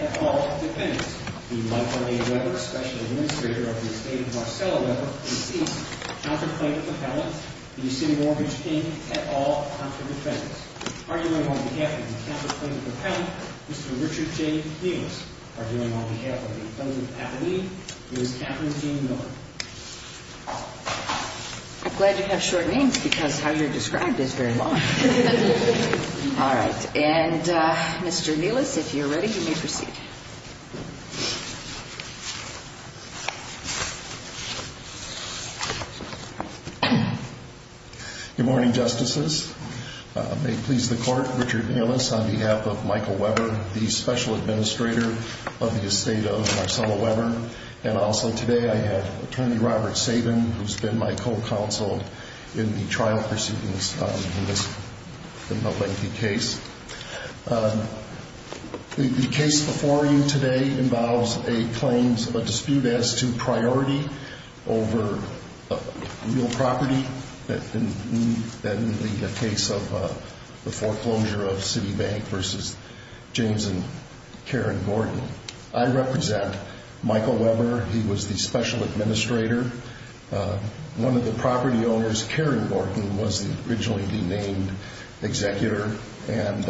At all Defendants. The Michael A. Webber, Special Administrator of the Estate of Marcella Webber, deceased. Counter Plaintiff Appellant. The Yosemite Mortgage, Inc. At all Contra Defendants. Arguing on behalf of the Counter Plaintiff Appellant, Mr. Richard J. Nunez. Arguing on behalf of the Defendant Appellee, Ms. Katherine Jean Miller. Mr. Nunez. Mr. Nunez. Mr. Nunez. Mr. Nunez. Mr. Nunez. I'm glad you have short names because how you're described is very long. All right. And Mr. Neelis, if you're ready, you may proceed. Good morning, Justices. May it please the Court, Richard Neelis on behalf of Michael Webber, the Special Administrator of the Estate of Marcella Webber. And also today I have Attorney Robert Sabin, who's been my co-counsel in the trial proceedings in this lengthy case. The case before you today involves a dispute as to priority over real property in the case of the foreclosure of Citibank versus James and Karen Gordon. I represent Michael Webber. He was the Special Administrator. One of the property owners, Karen Gordon, was the originally denamed executor and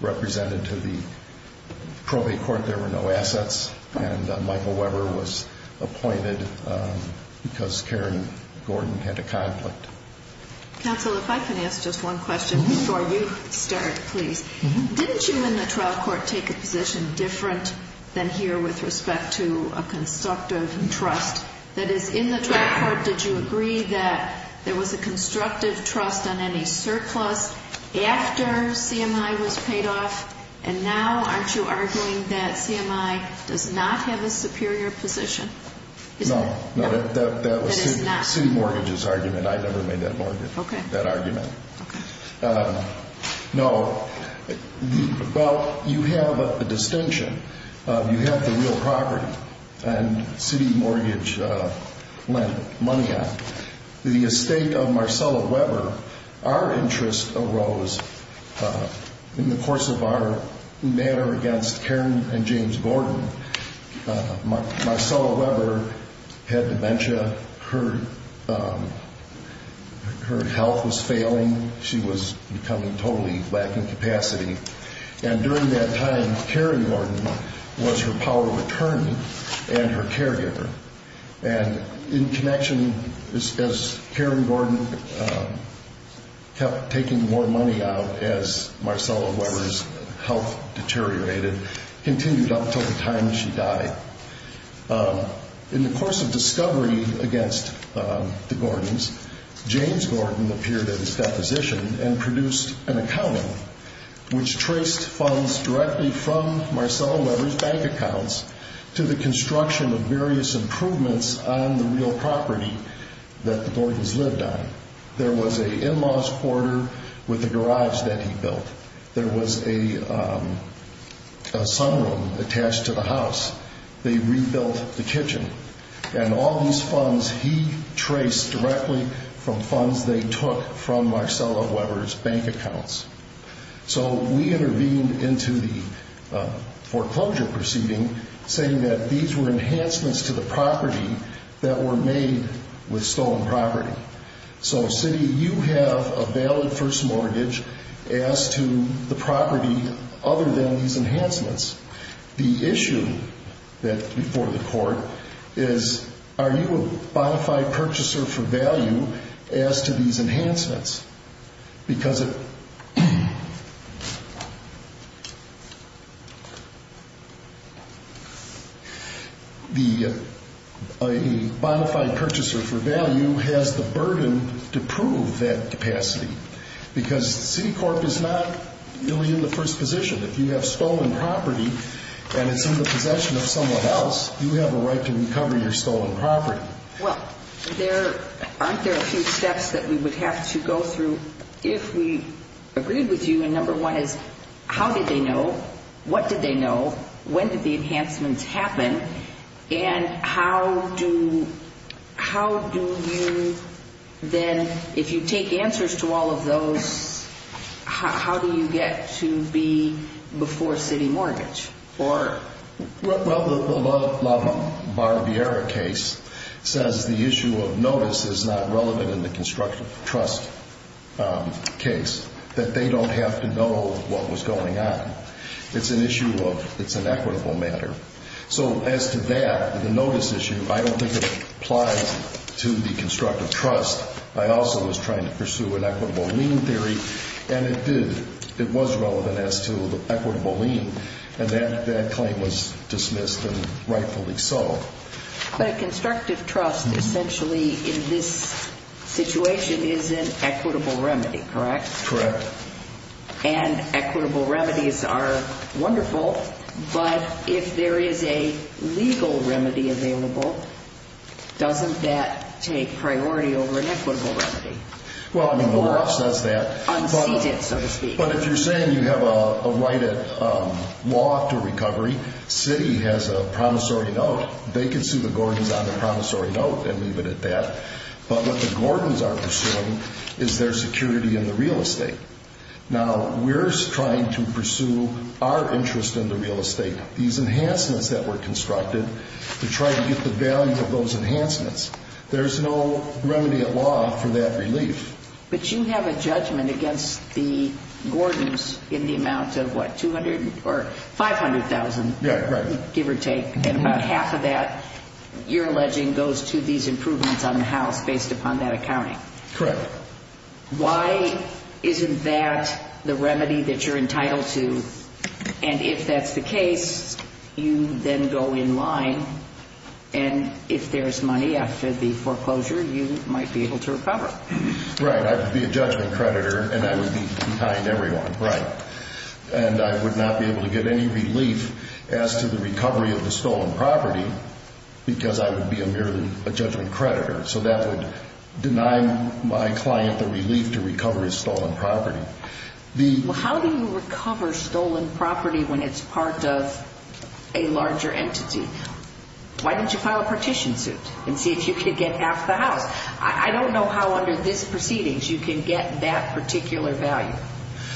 represented to the probate court. There were no assets. And Michael Webber was appointed because Karen Gordon had a conflict. Counsel, if I can ask just one question before you start, please. Didn't you in the trial court take a position different than here with respect to a constructive trust? That is, in the trial court, did you agree that there was a constructive trust on any surplus after CMI was paid off? And now aren't you arguing that CMI does not have a superior position? No. No, that was City Mortgage's argument. I never made that argument. Okay. No. Well, you have a distinction. You have the real property. And City Mortgage lent money on it. The estate of Marcella Webber, our interest arose in the course of our matter against Karen and James Gordon. Marcella Webber had dementia. Her health was failing. She was becoming totally lack of capacity. And during that time, Karen Gordon was her power of attorney and her caregiver. And in connection, as Karen Gordon kept taking more money out, as Marcella Webber's health deteriorated, continued up until the time she died. In the course of discovery against the Gordons, James Gordon appeared at his deposition and produced an accounting, which traced funds directly from Marcella Webber's bank accounts to the construction of various improvements on the real property that the Gordons lived on. There was an in-laws quarter with a garage that he built. There was a sunroom attached to the house. They rebuilt the kitchen. And all these funds he traced directly from funds they took from Marcella Webber's bank accounts. So we intervened into the foreclosure proceeding, saying that these were enhancements to the property that were made with stolen property. So, Cindy, you have a valid first mortgage as to the property other than these enhancements. The issue before the court is, are you a bona fide purchaser for value as to these enhancements? Because a bona fide purchaser for value has the burden to prove that capacity, because Citicorp is not really in the first position. If you have stolen property and it's in the possession of someone else, you have a right to recover your stolen property. Well, aren't there a few steps that we would have to go through if we agreed with you? And number one is, how did they know? What did they know? When did the enhancements happen? And how do you then, if you take answers to all of those, how do you get to be before city mortgage? Well, the LaBarriera case says the issue of notice is not relevant in the constructive trust case, that they don't have to know what was going on. It's an issue of, it's an equitable matter. So as to that, the notice issue, I don't think it applies to the constructive trust. I also was trying to pursue an equitable lien theory, and it did. It was relevant as to the equitable lien, and that claim was dismissed and rightfully so. But a constructive trust essentially in this situation is an equitable remedy, correct? Correct. And equitable remedies are wonderful, but if there is a legal remedy available, doesn't that take priority over an equitable remedy? Well, I mean, the law says that. Unceded, so to speak. But if you're saying you have a right at law to recovery, city has a promissory note. They can sue the Gordons on a promissory note and leave it at that. But what the Gordons are pursuing is their security in the real estate. Now, we're trying to pursue our interest in the real estate. These enhancements that were constructed, we're trying to get the value of those enhancements. There's no remedy at law for that relief. But you have a judgment against the Gordons in the amount of, what, $200,000 or $500,000? Yeah, correct. Give or take, and about half of that, you're alleging, goes to these improvements on the house based upon that accounting. Correct. Why isn't that the remedy that you're entitled to? And if that's the case, you then go in line, and if there's money after the foreclosure, you might be able to recover. Right. I would be a judgment creditor, and I would be behind everyone. Right. And I would not be able to get any relief as to the recovery of the stolen property because I would be merely a judgment creditor. So that would deny my client the relief to recover his stolen property. Well, how do you recover stolen property when it's part of a larger entity? Why don't you file a partition suit and see if you can get half the house? I don't know how under this proceedings you can get that particular value.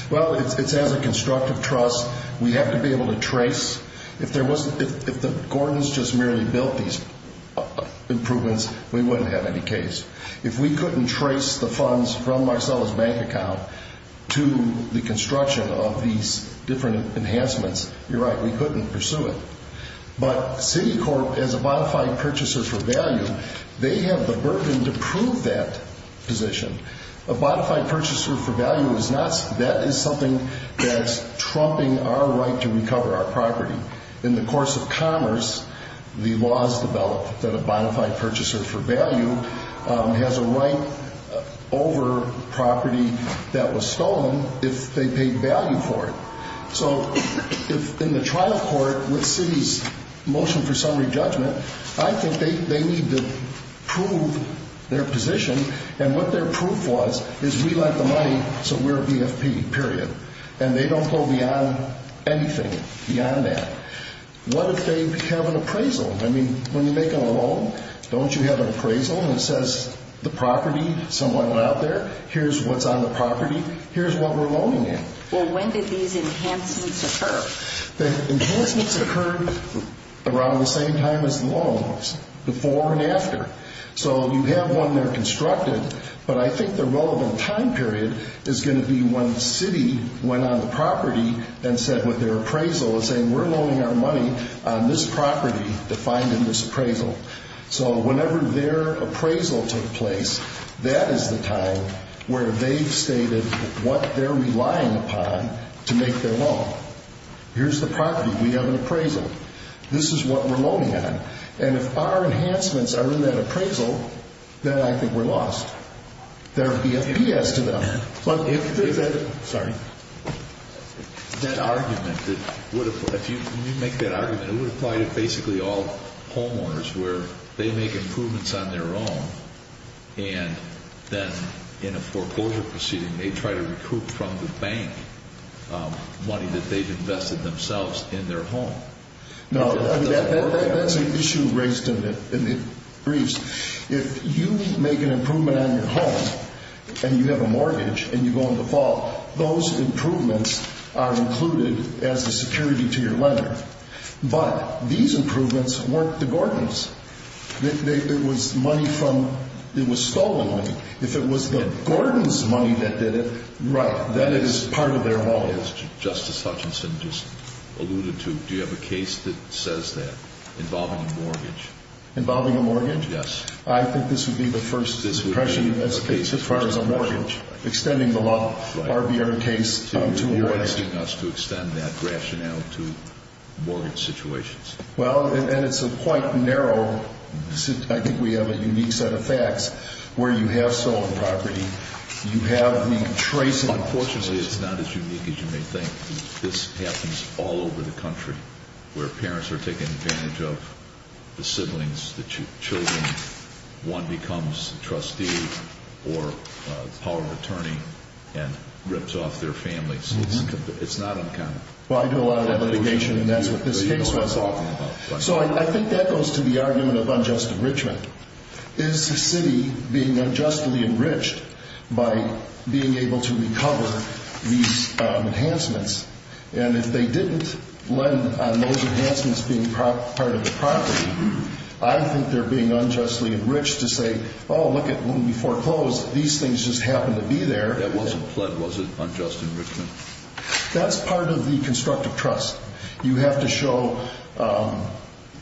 Well, it's as a constructive trust. We have to be able to trace. If the Gordons just merely built these improvements, we wouldn't have any case. If we couldn't trace the funds from Marcella's bank account to the construction of these different enhancements, you're right. We couldn't pursue it. But Citicorp, as a bonafide purchaser for value, they have the burden to prove that position. A bonafide purchaser for value, that is something that's trumping our right to recover our property. In the course of commerce, the laws developed that a bonafide purchaser for value has a right over property that was stolen if they paid value for it. So in the trial court, with Citi's motion for summary judgment, I think they need to prove their position. And what their proof was is we like the money, so we're a BFP, period. And they don't go beyond anything beyond that. What if they have an appraisal? I mean, when you make a loan, don't you have an appraisal that says the property, someone went out there, here's what's on the property, here's what we're loaning you? Well, when did these enhancements occur? The enhancements occurred around the same time as the loans, before and after. So you have one there constructed, but I think the relevant time period is going to be when Citi went on the property and said with their appraisal, saying we're loaning our money on this property defined in this appraisal. So whenever their appraisal took place, that is the time where they've stated what they're relying upon to make their loan. Here's the property. We have an appraisal. This is what we're loaning on. And if our enhancements are in that appraisal, then I think we're lost. They're a BFP as to them. But if that argument, if you make that argument, it would apply to basically all homeowners where they make improvements on their own, and then in a foreclosure proceeding, they try to recoup from the bank money that they've invested themselves in their home. No, that's an issue raised in the briefs. If you make an improvement on your home and you have a mortgage and you go into default, those improvements are included as a security to your lender. But these improvements weren't the Gordon's. It was stolen money. If it was the Gordon's money that did it, right, then it is part of their loan. As Justice Hutchinson just alluded to, do you have a case that says that involving a mortgage? Involving a mortgage? Yes. I think this would be the first suppression as far as a mortgage, extending the law, RBR case, to a way. You're asking us to extend that rationale to mortgage situations. Well, and it's a quite narrow, I think we have a unique set of facts, where you have stolen property. You have the tracing. Unfortunately, it's not as unique as you may think. This happens all over the country, where parents are taking advantage of the siblings, the children. One becomes a trustee or a power of attorney and rips off their families. It's not uncommon. Well, I do a lot of litigation and that's what this case was on. So I think that goes to the argument of unjust enrichment. Is the city being unjustly enriched by being able to recover these enhancements? And if they didn't lend on those enhancements being part of the property, I think they're being unjustly enriched to say, oh, look at when we foreclosed, these things just happened to be there. That wasn't pled, was it, unjust enrichment? That's part of the constructive trust. You have to show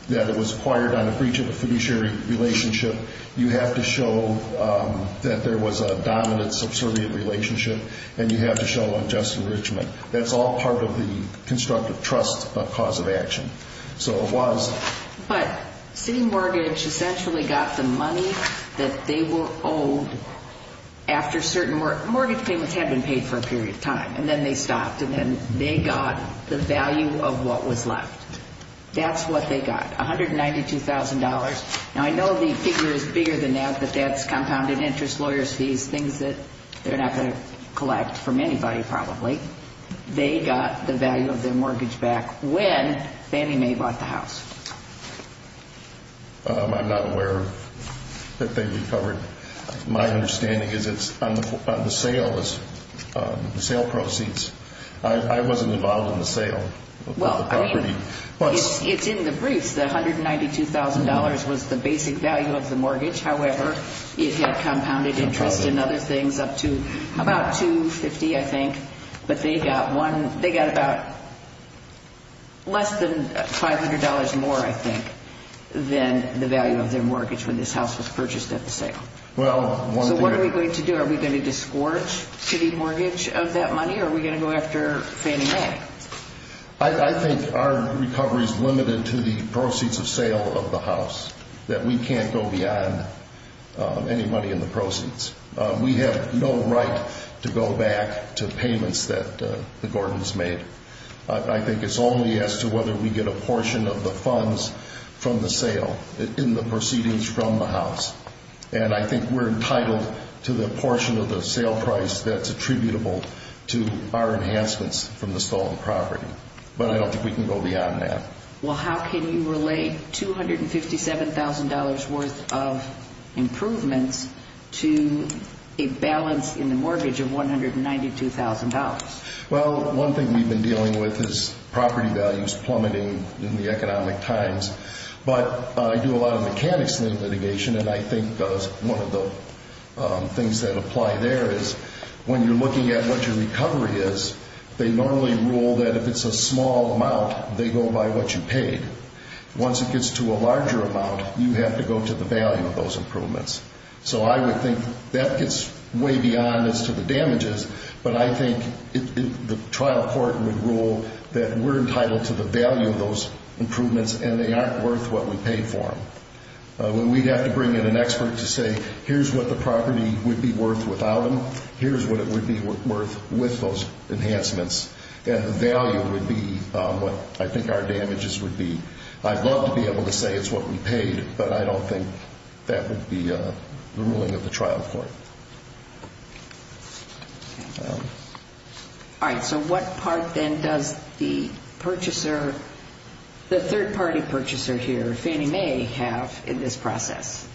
that it was acquired on a breach of a fiduciary relationship. You have to show that there was a dominant subservient relationship. And you have to show unjust enrichment. That's all part of the constructive trust cause of action. So it was. But city mortgage essentially got the money that they were owed after certain mortgage payments had been paid for a period of time. And then they stopped and then they got the value of what was left. That's what they got, $192,000. Now, I know the figure is bigger than that, but that's compounded interest, lawyer's fees, things that they're not going to collect from anybody probably. They got the value of their mortgage back when Fannie Mae bought the house. I'm not aware that they recovered. My understanding is it's on the sale, the sale proceeds. I wasn't involved in the sale of the property. It's in the briefs. The $192,000 was the basic value of the mortgage. However, it had compounded interest and other things up to about $250,000, I think. But they got about less than $500 more, I think, than the value of their mortgage when this house was purchased at the sale. So what are we going to do? Are we going to disgorge city mortgage of that money or are we going to go after Fannie Mae? I think our recovery is limited to the proceeds of sale of the house, that we can't go beyond any money in the proceeds. We have no right to go back to payments that the Gordons made. I think it's only as to whether we get a portion of the funds from the sale in the proceedings from the house. And I think we're entitled to the portion of the sale price that's attributable to our enhancements from the stolen property. But I don't think we can go beyond that. Well, how can you relate $257,000 worth of improvements to a balance in the mortgage of $192,000? Well, one thing we've been dealing with is property values plummeting in the economic times. But I do a lot of mechanics in litigation, and I think one of the things that apply there is when you're looking at what your recovery is, they normally rule that if it's a small amount, they go by what you paid. Once it gets to a larger amount, you have to go to the value of those improvements. So I would think that gets way beyond as to the damages, but I think the trial court would rule that we're entitled to the value of those improvements and they aren't worth what we paid for them. We'd have to bring in an expert to say, here's what the property would be worth without them, here's what it would be worth with those enhancements, and the value would be what I think our damages would be. I'd love to be able to say it's what we paid, but I don't think that would be the ruling of the trial court. All right. So what part then does the purchaser, the third-party purchaser here, Fannie Mae, have in this process?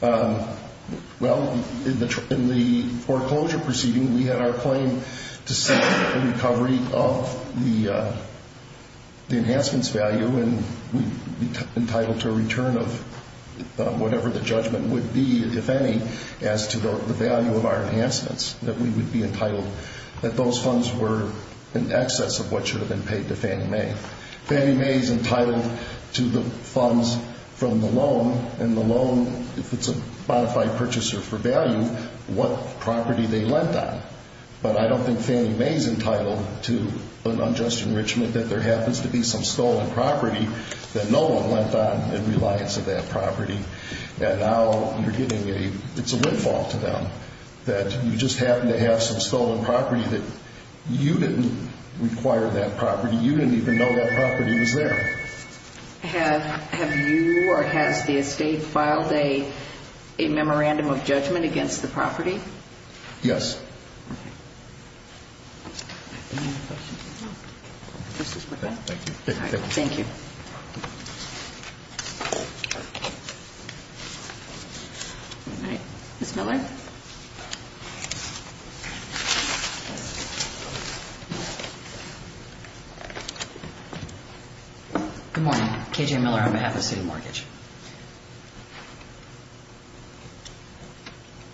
Well, in the foreclosure proceeding, we had our claim to seek the recovery of the enhancements value, and we'd be entitled to a return of whatever the judgment would be, if any, as to the value of our enhancements, that we would be entitled that those funds were in excess of what should have been paid to Fannie Mae. Fannie Mae's entitled to the funds from the loan, and the loan, if it's a modified purchaser for value, what property they lent on. But I don't think Fannie Mae's entitled to an unjust enrichment that there happens to be some stolen property that no one lent on in reliance of that property, that now you're getting a, it's a windfall to them, that you just happen to have some stolen property that you didn't require that property, you didn't even know that property was there. Have you or has the estate filed a memorandum of judgment against the property? Yes. Thank you. Thank you. All right. Ms. Miller? Good morning. K.J. Miller on behalf of City Mortgage.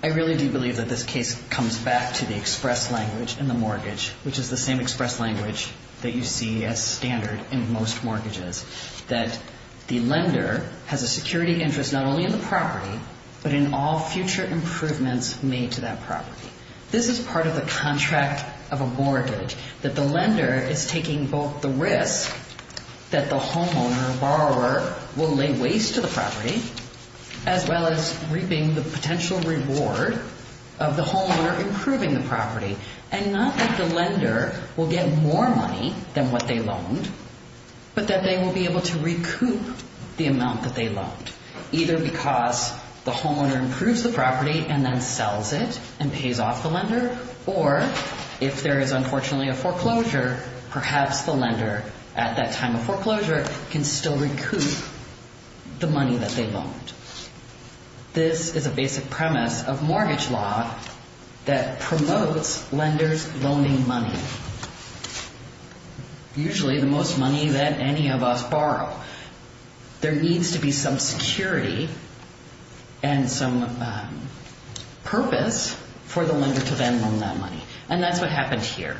I really do believe that this case comes back to the express language in the mortgage, which is the same express language that you see as standard in most mortgages, that the lender has a security interest not only in the property but in all future improvements made to that property. This is part of the contract of a mortgage, that the lender is taking both the risk that the homeowner, borrower, will lay waste to the property, as well as reaping the potential reward of the homeowner improving the property, and not that the lender will get more money than what they loaned, but that they will be able to recoup the amount that they loaned, either because the homeowner improves the property and then sells it and pays off the lender, or if there is unfortunately a foreclosure, perhaps the lender at that time of foreclosure can still recoup the money that they loaned. This is a basic premise of mortgage law that promotes lenders loaning money, usually the most money that any of us borrow. There needs to be some security and some purpose for the lender to then loan that money, and that's what happened here.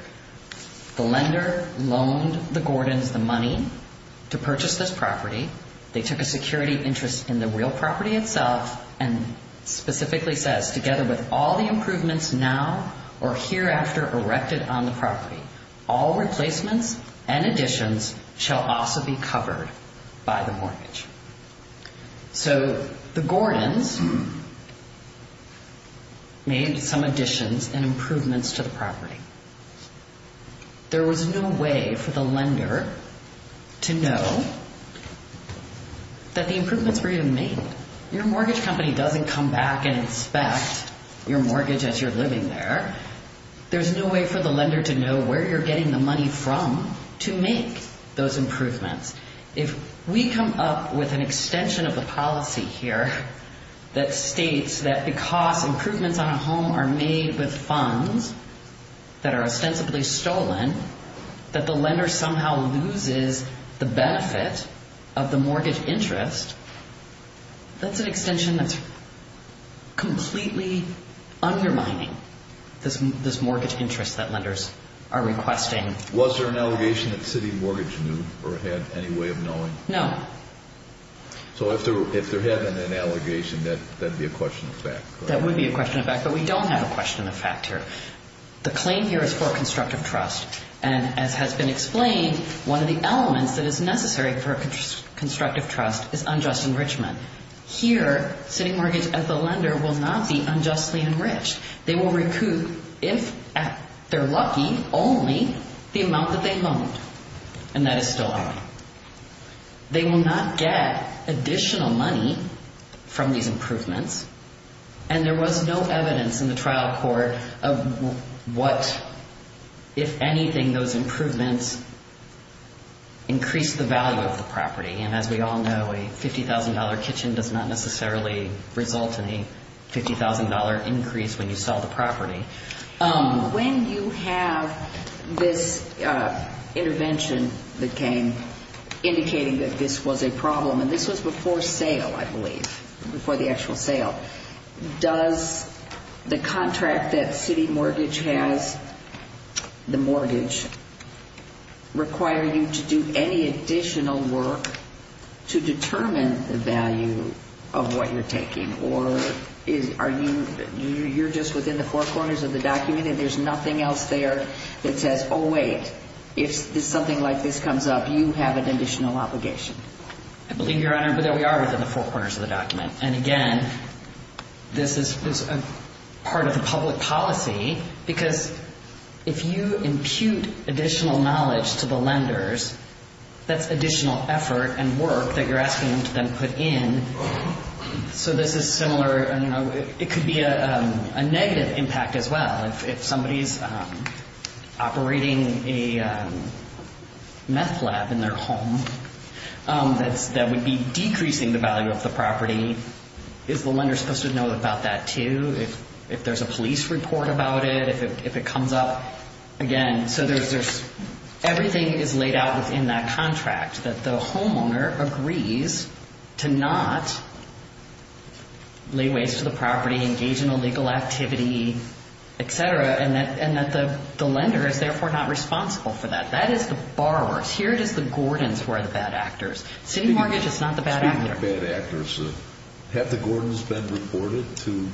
The lender loaned the Gordons the money to purchase this property. They took a security interest in the real property itself and specifically says, together with all the improvements now or hereafter erected on the property, all replacements and additions shall also be covered by the mortgage. So the Gordons made some additions and improvements to the property. There was no way for the lender to know that the improvements were even made. Your mortgage company doesn't come back and inspect your mortgage as you're living there. There's no way for the lender to know where you're getting the money from to make those improvements. If we come up with an extension of the policy here that states that because improvements on a home are made with funds that are ostensibly stolen, that the lender somehow loses the benefit of the mortgage interest, that's an extension that's completely undermining this mortgage interest that lenders are requesting. Was there an allegation that City Mortgage knew or had any way of knowing? No. So if there had been an allegation, that would be a question of fact. That would be a question of fact, but we don't have a question of fact here. The claim here is for a constructive trust, and as has been explained, one of the elements that is necessary for a constructive trust is unjust enrichment. Here, City Mortgage, as the lender, will not be unjustly enriched. They will recoup, if they're lucky, only the amount that they loaned, and that is stolen. They will not get additional money from these improvements, and there was no evidence in the trial court of what, if anything, those improvements increased the value of the property. And as we all know, a $50,000 kitchen does not necessarily result in a $50,000 increase when you sell the property. When you have this intervention that came indicating that this was a problem, and this was before sale, I believe, before the actual sale, does the contract that City Mortgage has, the mortgage, require you to do any additional work to determine the value of what you're taking? Or are you just within the four corners of the document, and there's nothing else there that says, oh, wait, if something like this comes up, you have an additional obligation? I believe, Your Honor, that we are within the four corners of the document. And again, this is part of the public policy, because if you impute additional knowledge to the lenders, that's additional effort and work that you're asking them to then put in. So this is similar. It could be a negative impact as well. If somebody's operating a meth lab in their home, that would be decreasing the value of the property. Is the lender supposed to know about that too? If there's a police report about it, if it comes up? Again, so everything is laid out within that contract, that the homeowner agrees to not lay waste to the property, engage in illegal activity, et cetera, and that the lender is therefore not responsible for that. That is the borrower's. Here it is the Gordons who are the bad actors. City Mortgage is not the bad actor. Speaking of bad actors, have the Gordons been reported to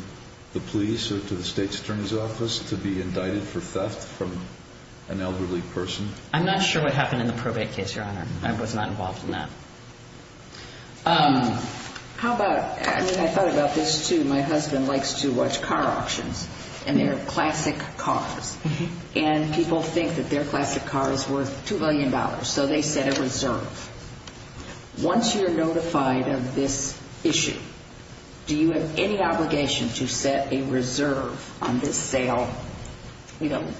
the police or to the State's Attorney's Office to be indicted for theft from an elderly person? I'm not sure what happened in the probate case, Your Honor. I was not involved in that. I thought about this too. My husband likes to watch car auctions, and they're classic cars. And people think that their classic car is worth $2 million, so they set a reserve. Once you're notified of this issue, do you have any obligation to set a reserve on this sale,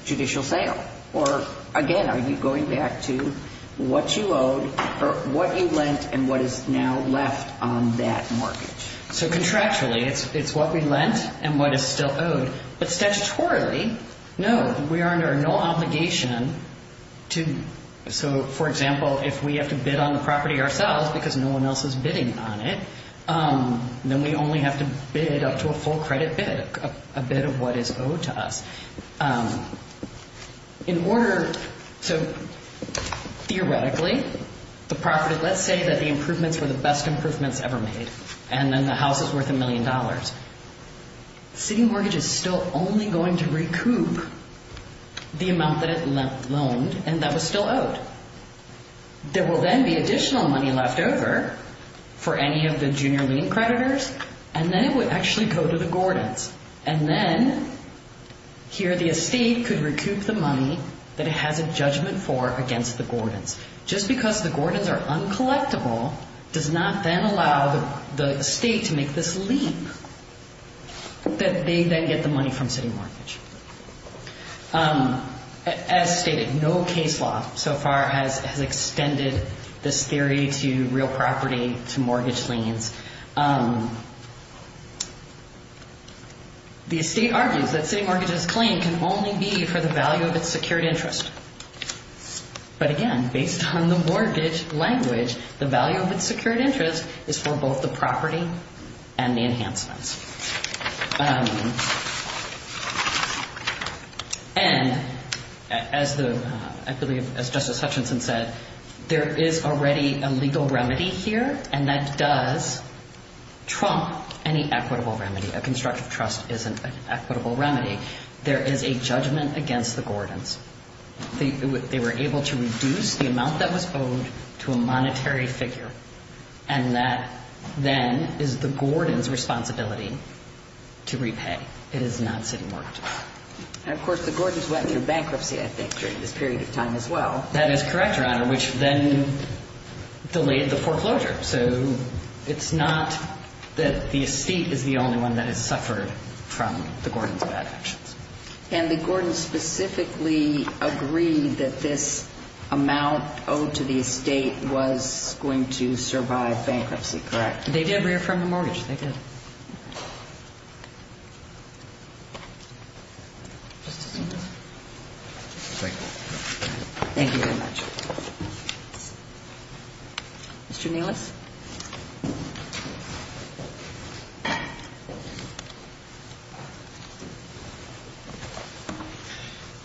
judicial sale? Or, again, are you going back to what you owed or what you lent and what is now left on that mortgage? So contractually, it's what we lent and what is still owed. But statutorily, no, we are under no obligation to. So, for example, if we have to bid on the property ourselves because no one else is bidding on it, then we only have to bid up to a full credit bid, a bid of what is owed to us. In order to, theoretically, the property, let's say that the improvements were the best improvements ever made, and then the house is worth $1 million. The sitting mortgage is still only going to recoup the amount that it loaned and that was still owed. There will then be additional money left over for any of the junior lien creditors, and then it would actually go to the Gordons. And then here the estate could recoup the money that it has a judgment for against the Gordons. Just because the Gordons are uncollectible does not then allow the estate to make this leap that they then get the money from sitting mortgage. As stated, no case law so far has extended this theory to real property, to mortgage liens. The estate argues that sitting mortgage's claim can only be for the value of its secured interest. But again, based on the mortgage language, the value of its secured interest is for both the property and the enhancements. And as Justice Hutchinson said, there is already a legal remedy here, and that does trump any equitable remedy. A constructive trust is an equitable remedy. There is a judgment against the Gordons. They were able to reduce the amount that was owed to a monetary figure, and that then is the Gordons' responsibility to repay. It is not sitting mortgage. And, of course, the Gordons went through bankruptcy, I think, during this period of time as well. That is correct, Your Honor, which then delayed the foreclosure. So it's not that the estate is the only one that has suffered from the Gordons' bad actions. And the Gordons specifically agreed that this amount owed to the estate was going to survive bankruptcy, correct? They did reaffirm the mortgage. They did. Thank you. Thank you very much. Mr. Nelis?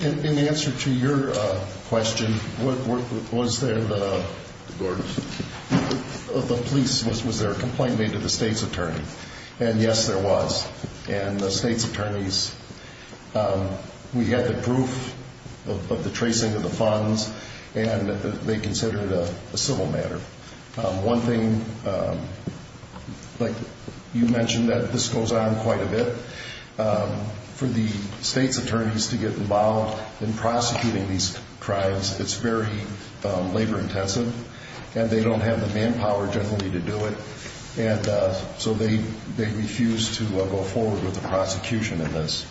In answer to your question, was there a complaint made to the state's attorney? And, yes, there was. And the state's attorneys, we had the proof of the tracing of the funds, and they considered it a civil matter. One thing, like you mentioned, that this goes on quite a bit. For the state's attorneys to get involved in prosecuting these crimes, it's very labor-intensive, and they don't have the manpower generally to do it. And so they refused to go forward with the prosecution in this,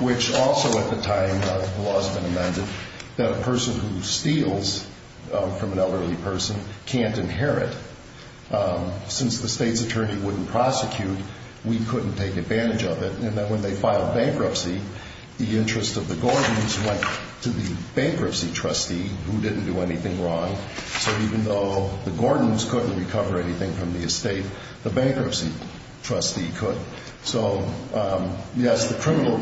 which also at the time the law has been amended that a person who steals from an elderly person can't inherit. Since the state's attorney wouldn't prosecute, we couldn't take advantage of it. And then when they filed bankruptcy, the interest of the Gordons went to the bankruptcy trustee, who didn't do anything wrong. So even though the Gordons couldn't recover anything from the estate, the bankruptcy trustee could. So, yes, the criminal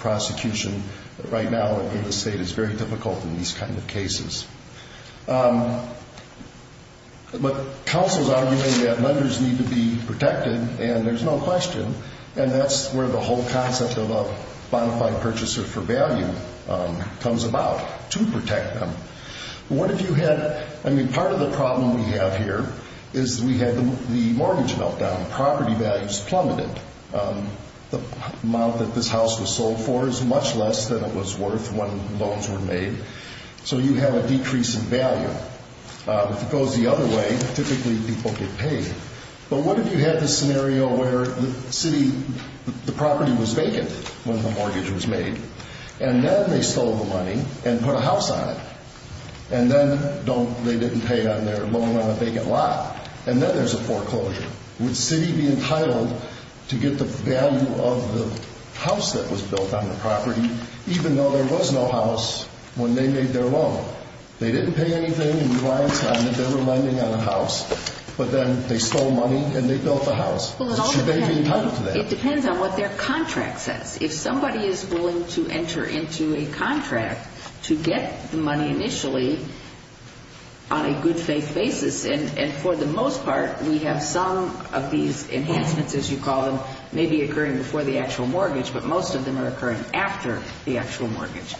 prosecution right now in the state is very difficult in these kind of cases. But counsels argue that lenders need to be protected, and there's no question. And that's where the whole concept of a bona fide purchaser for value comes about, to protect them. Part of the problem we have here is we have the mortgage meltdown. Property values plummeted. The amount that this house was sold for is much less than it was worth when loans were made. So you have a decrease in value. If it goes the other way, typically people get paid. But what if you had this scenario where the property was vacant when the mortgage was made, and then they stole the money and put a house on it, and then they didn't pay on their loan on a vacant lot, and then there's a foreclosure. Would Citi be entitled to get the value of the house that was built on the property, even though there was no house when they made their loan? They didn't pay anything in reliance on that they were lending on a house, but then they stole money and they built the house. Should they be entitled to that? It depends on what their contract says. If somebody is willing to enter into a contract to get money initially on a good-faith basis, and for the most part we have some of these enhancements, as you call them, maybe occurring before the actual mortgage, but most of them are occurring after the actual mortgage,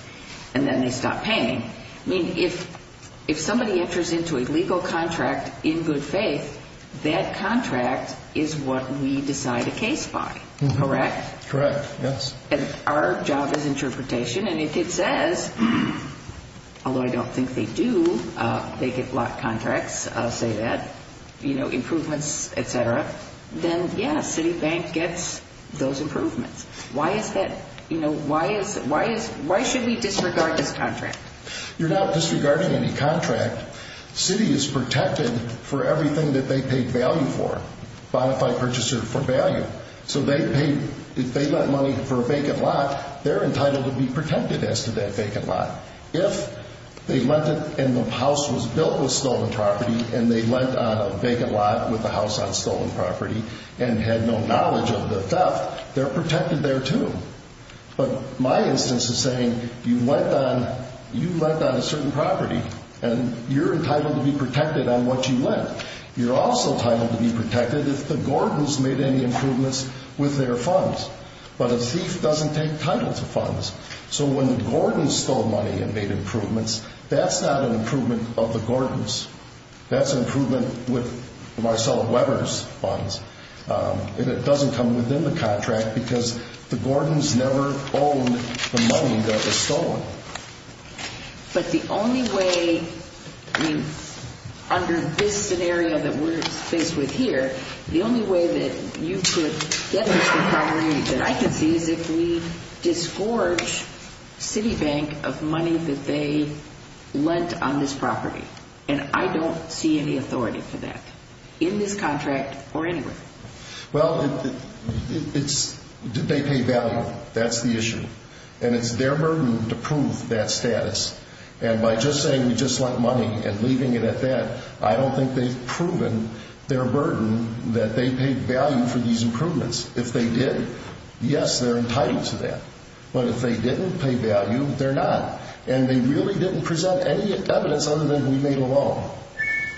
and then they stop paying. I mean, if somebody enters into a legal contract in good faith, that contract is what we decide a case by, correct? Correct, yes. And our job is interpretation, and if it says, although I don't think they do, they get blocked contracts, I'll say that, you know, improvements, et cetera, then, yeah, Citi Bank gets those improvements. Why is that? You know, why should we disregard this contract? You're not disregarding any contract. Citi is protected for everything that they paid value for. So if they lent money for a vacant lot, they're entitled to be protected as to that vacant lot. If they lent it and the house was built with stolen property and they lent on a vacant lot with the house on stolen property and had no knowledge of the theft, they're protected there, too. But my instance is saying you lent on a certain property, and you're entitled to be protected on what you lent. You're also entitled to be protected if the Gordons made any improvements with their funds. But a thief doesn't take title to funds. So when the Gordons stole money and made improvements, that's not an improvement of the Gordons. That's an improvement with Marcella Weber's funds. And it doesn't come within the contract because the Gordons never owned the money that was stolen. But the only way, under this scenario that we're faced with here, the only way that you could get this property that I can see is if we disgorge Citi Bank of money that they lent on this property. And I don't see any authority for that in this contract or anywhere. Well, it's, did they pay value? That's the issue. And it's their burden to prove that status. And by just saying we just lent money and leaving it at that, I don't think they've proven their burden that they paid value for these improvements. If they did, yes, they're entitled to that. But if they didn't pay value, they're not. And they really didn't present any evidence other than we made a loan.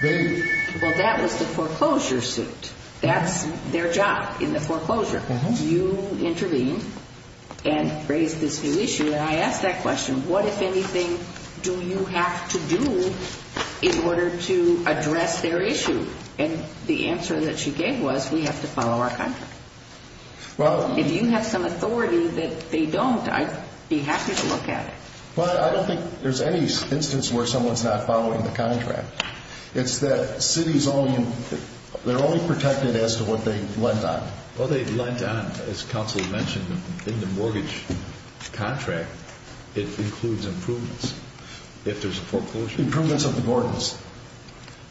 Well, that was the foreclosure suit. That's their job in the foreclosure. You intervened and raised this new issue, and I asked that question, what, if anything, do you have to do in order to address their issue? And the answer that she gave was we have to follow our contract. If you have some authority that they don't, I'd be happy to look at it. Well, I don't think there's any instance where someone's not following the contract. It's that Citi's only, they're only protected as to what they lent on. Well, they lent on, as counsel mentioned, in the mortgage contract, it includes improvements. If there's a foreclosure. Improvements of the Gordons.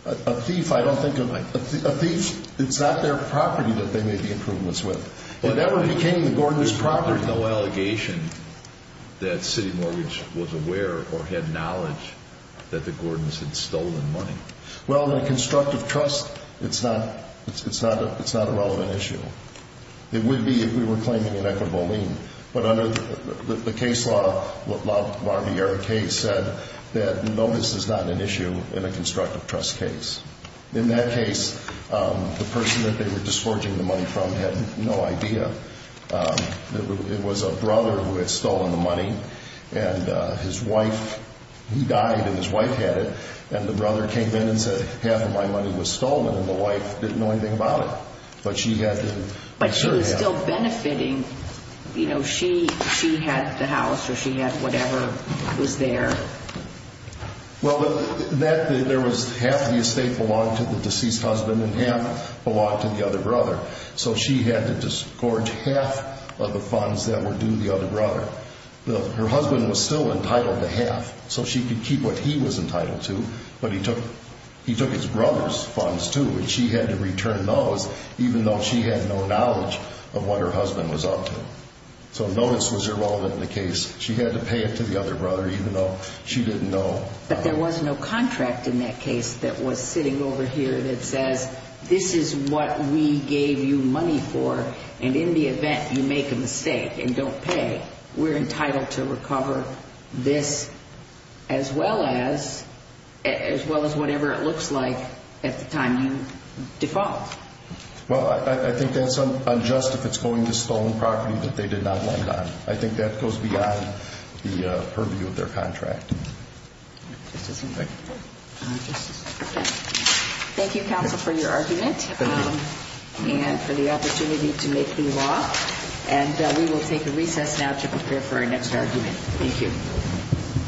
A thief, I don't think, a thief, it's not their property that they made the improvements with. Whatever became the Gordons' property. There's no allegation that Citi Mortgage was aware or had knowledge that the Gordons had stolen money. Well, in a constructive trust, it's not, it's not a relevant issue. It would be if we were claiming inequitable lien. But under the case law, the case said that notice is not an issue in a constructive trust case. In that case, the person that they were discharging the money from had no idea. It was a brother who had stolen the money, and his wife, he died and his wife had it, and the brother came in and said, half of my money was stolen, and the wife didn't know anything about it. But she had to. But she was still benefiting, you know, she had the house or she had whatever was there. Well, there was half the estate belonged to the deceased husband and half belonged to the other brother. So she had to disgorge half of the funds that were due the other brother. Her husband was still entitled to half, so she could keep what he was entitled to, but he took his brother's funds too, and she had to return those even though she had no knowledge of what her husband was up to. So notice was irrelevant in the case. She had to pay it to the other brother even though she didn't know. But there was no contract in that case that was sitting over here that says, this is what we gave you money for, and in the event you make a mistake and don't pay, we're entitled to recover this as well as whatever it looks like at the time you default. Well, I think that's unjust if it's going to stolen property that they did not land on. I think that goes beyond the purview of their contract. Thank you, counsel, for your argument and for the opportunity to make the law. And we will take a recess now to prepare for our next argument. Thank you.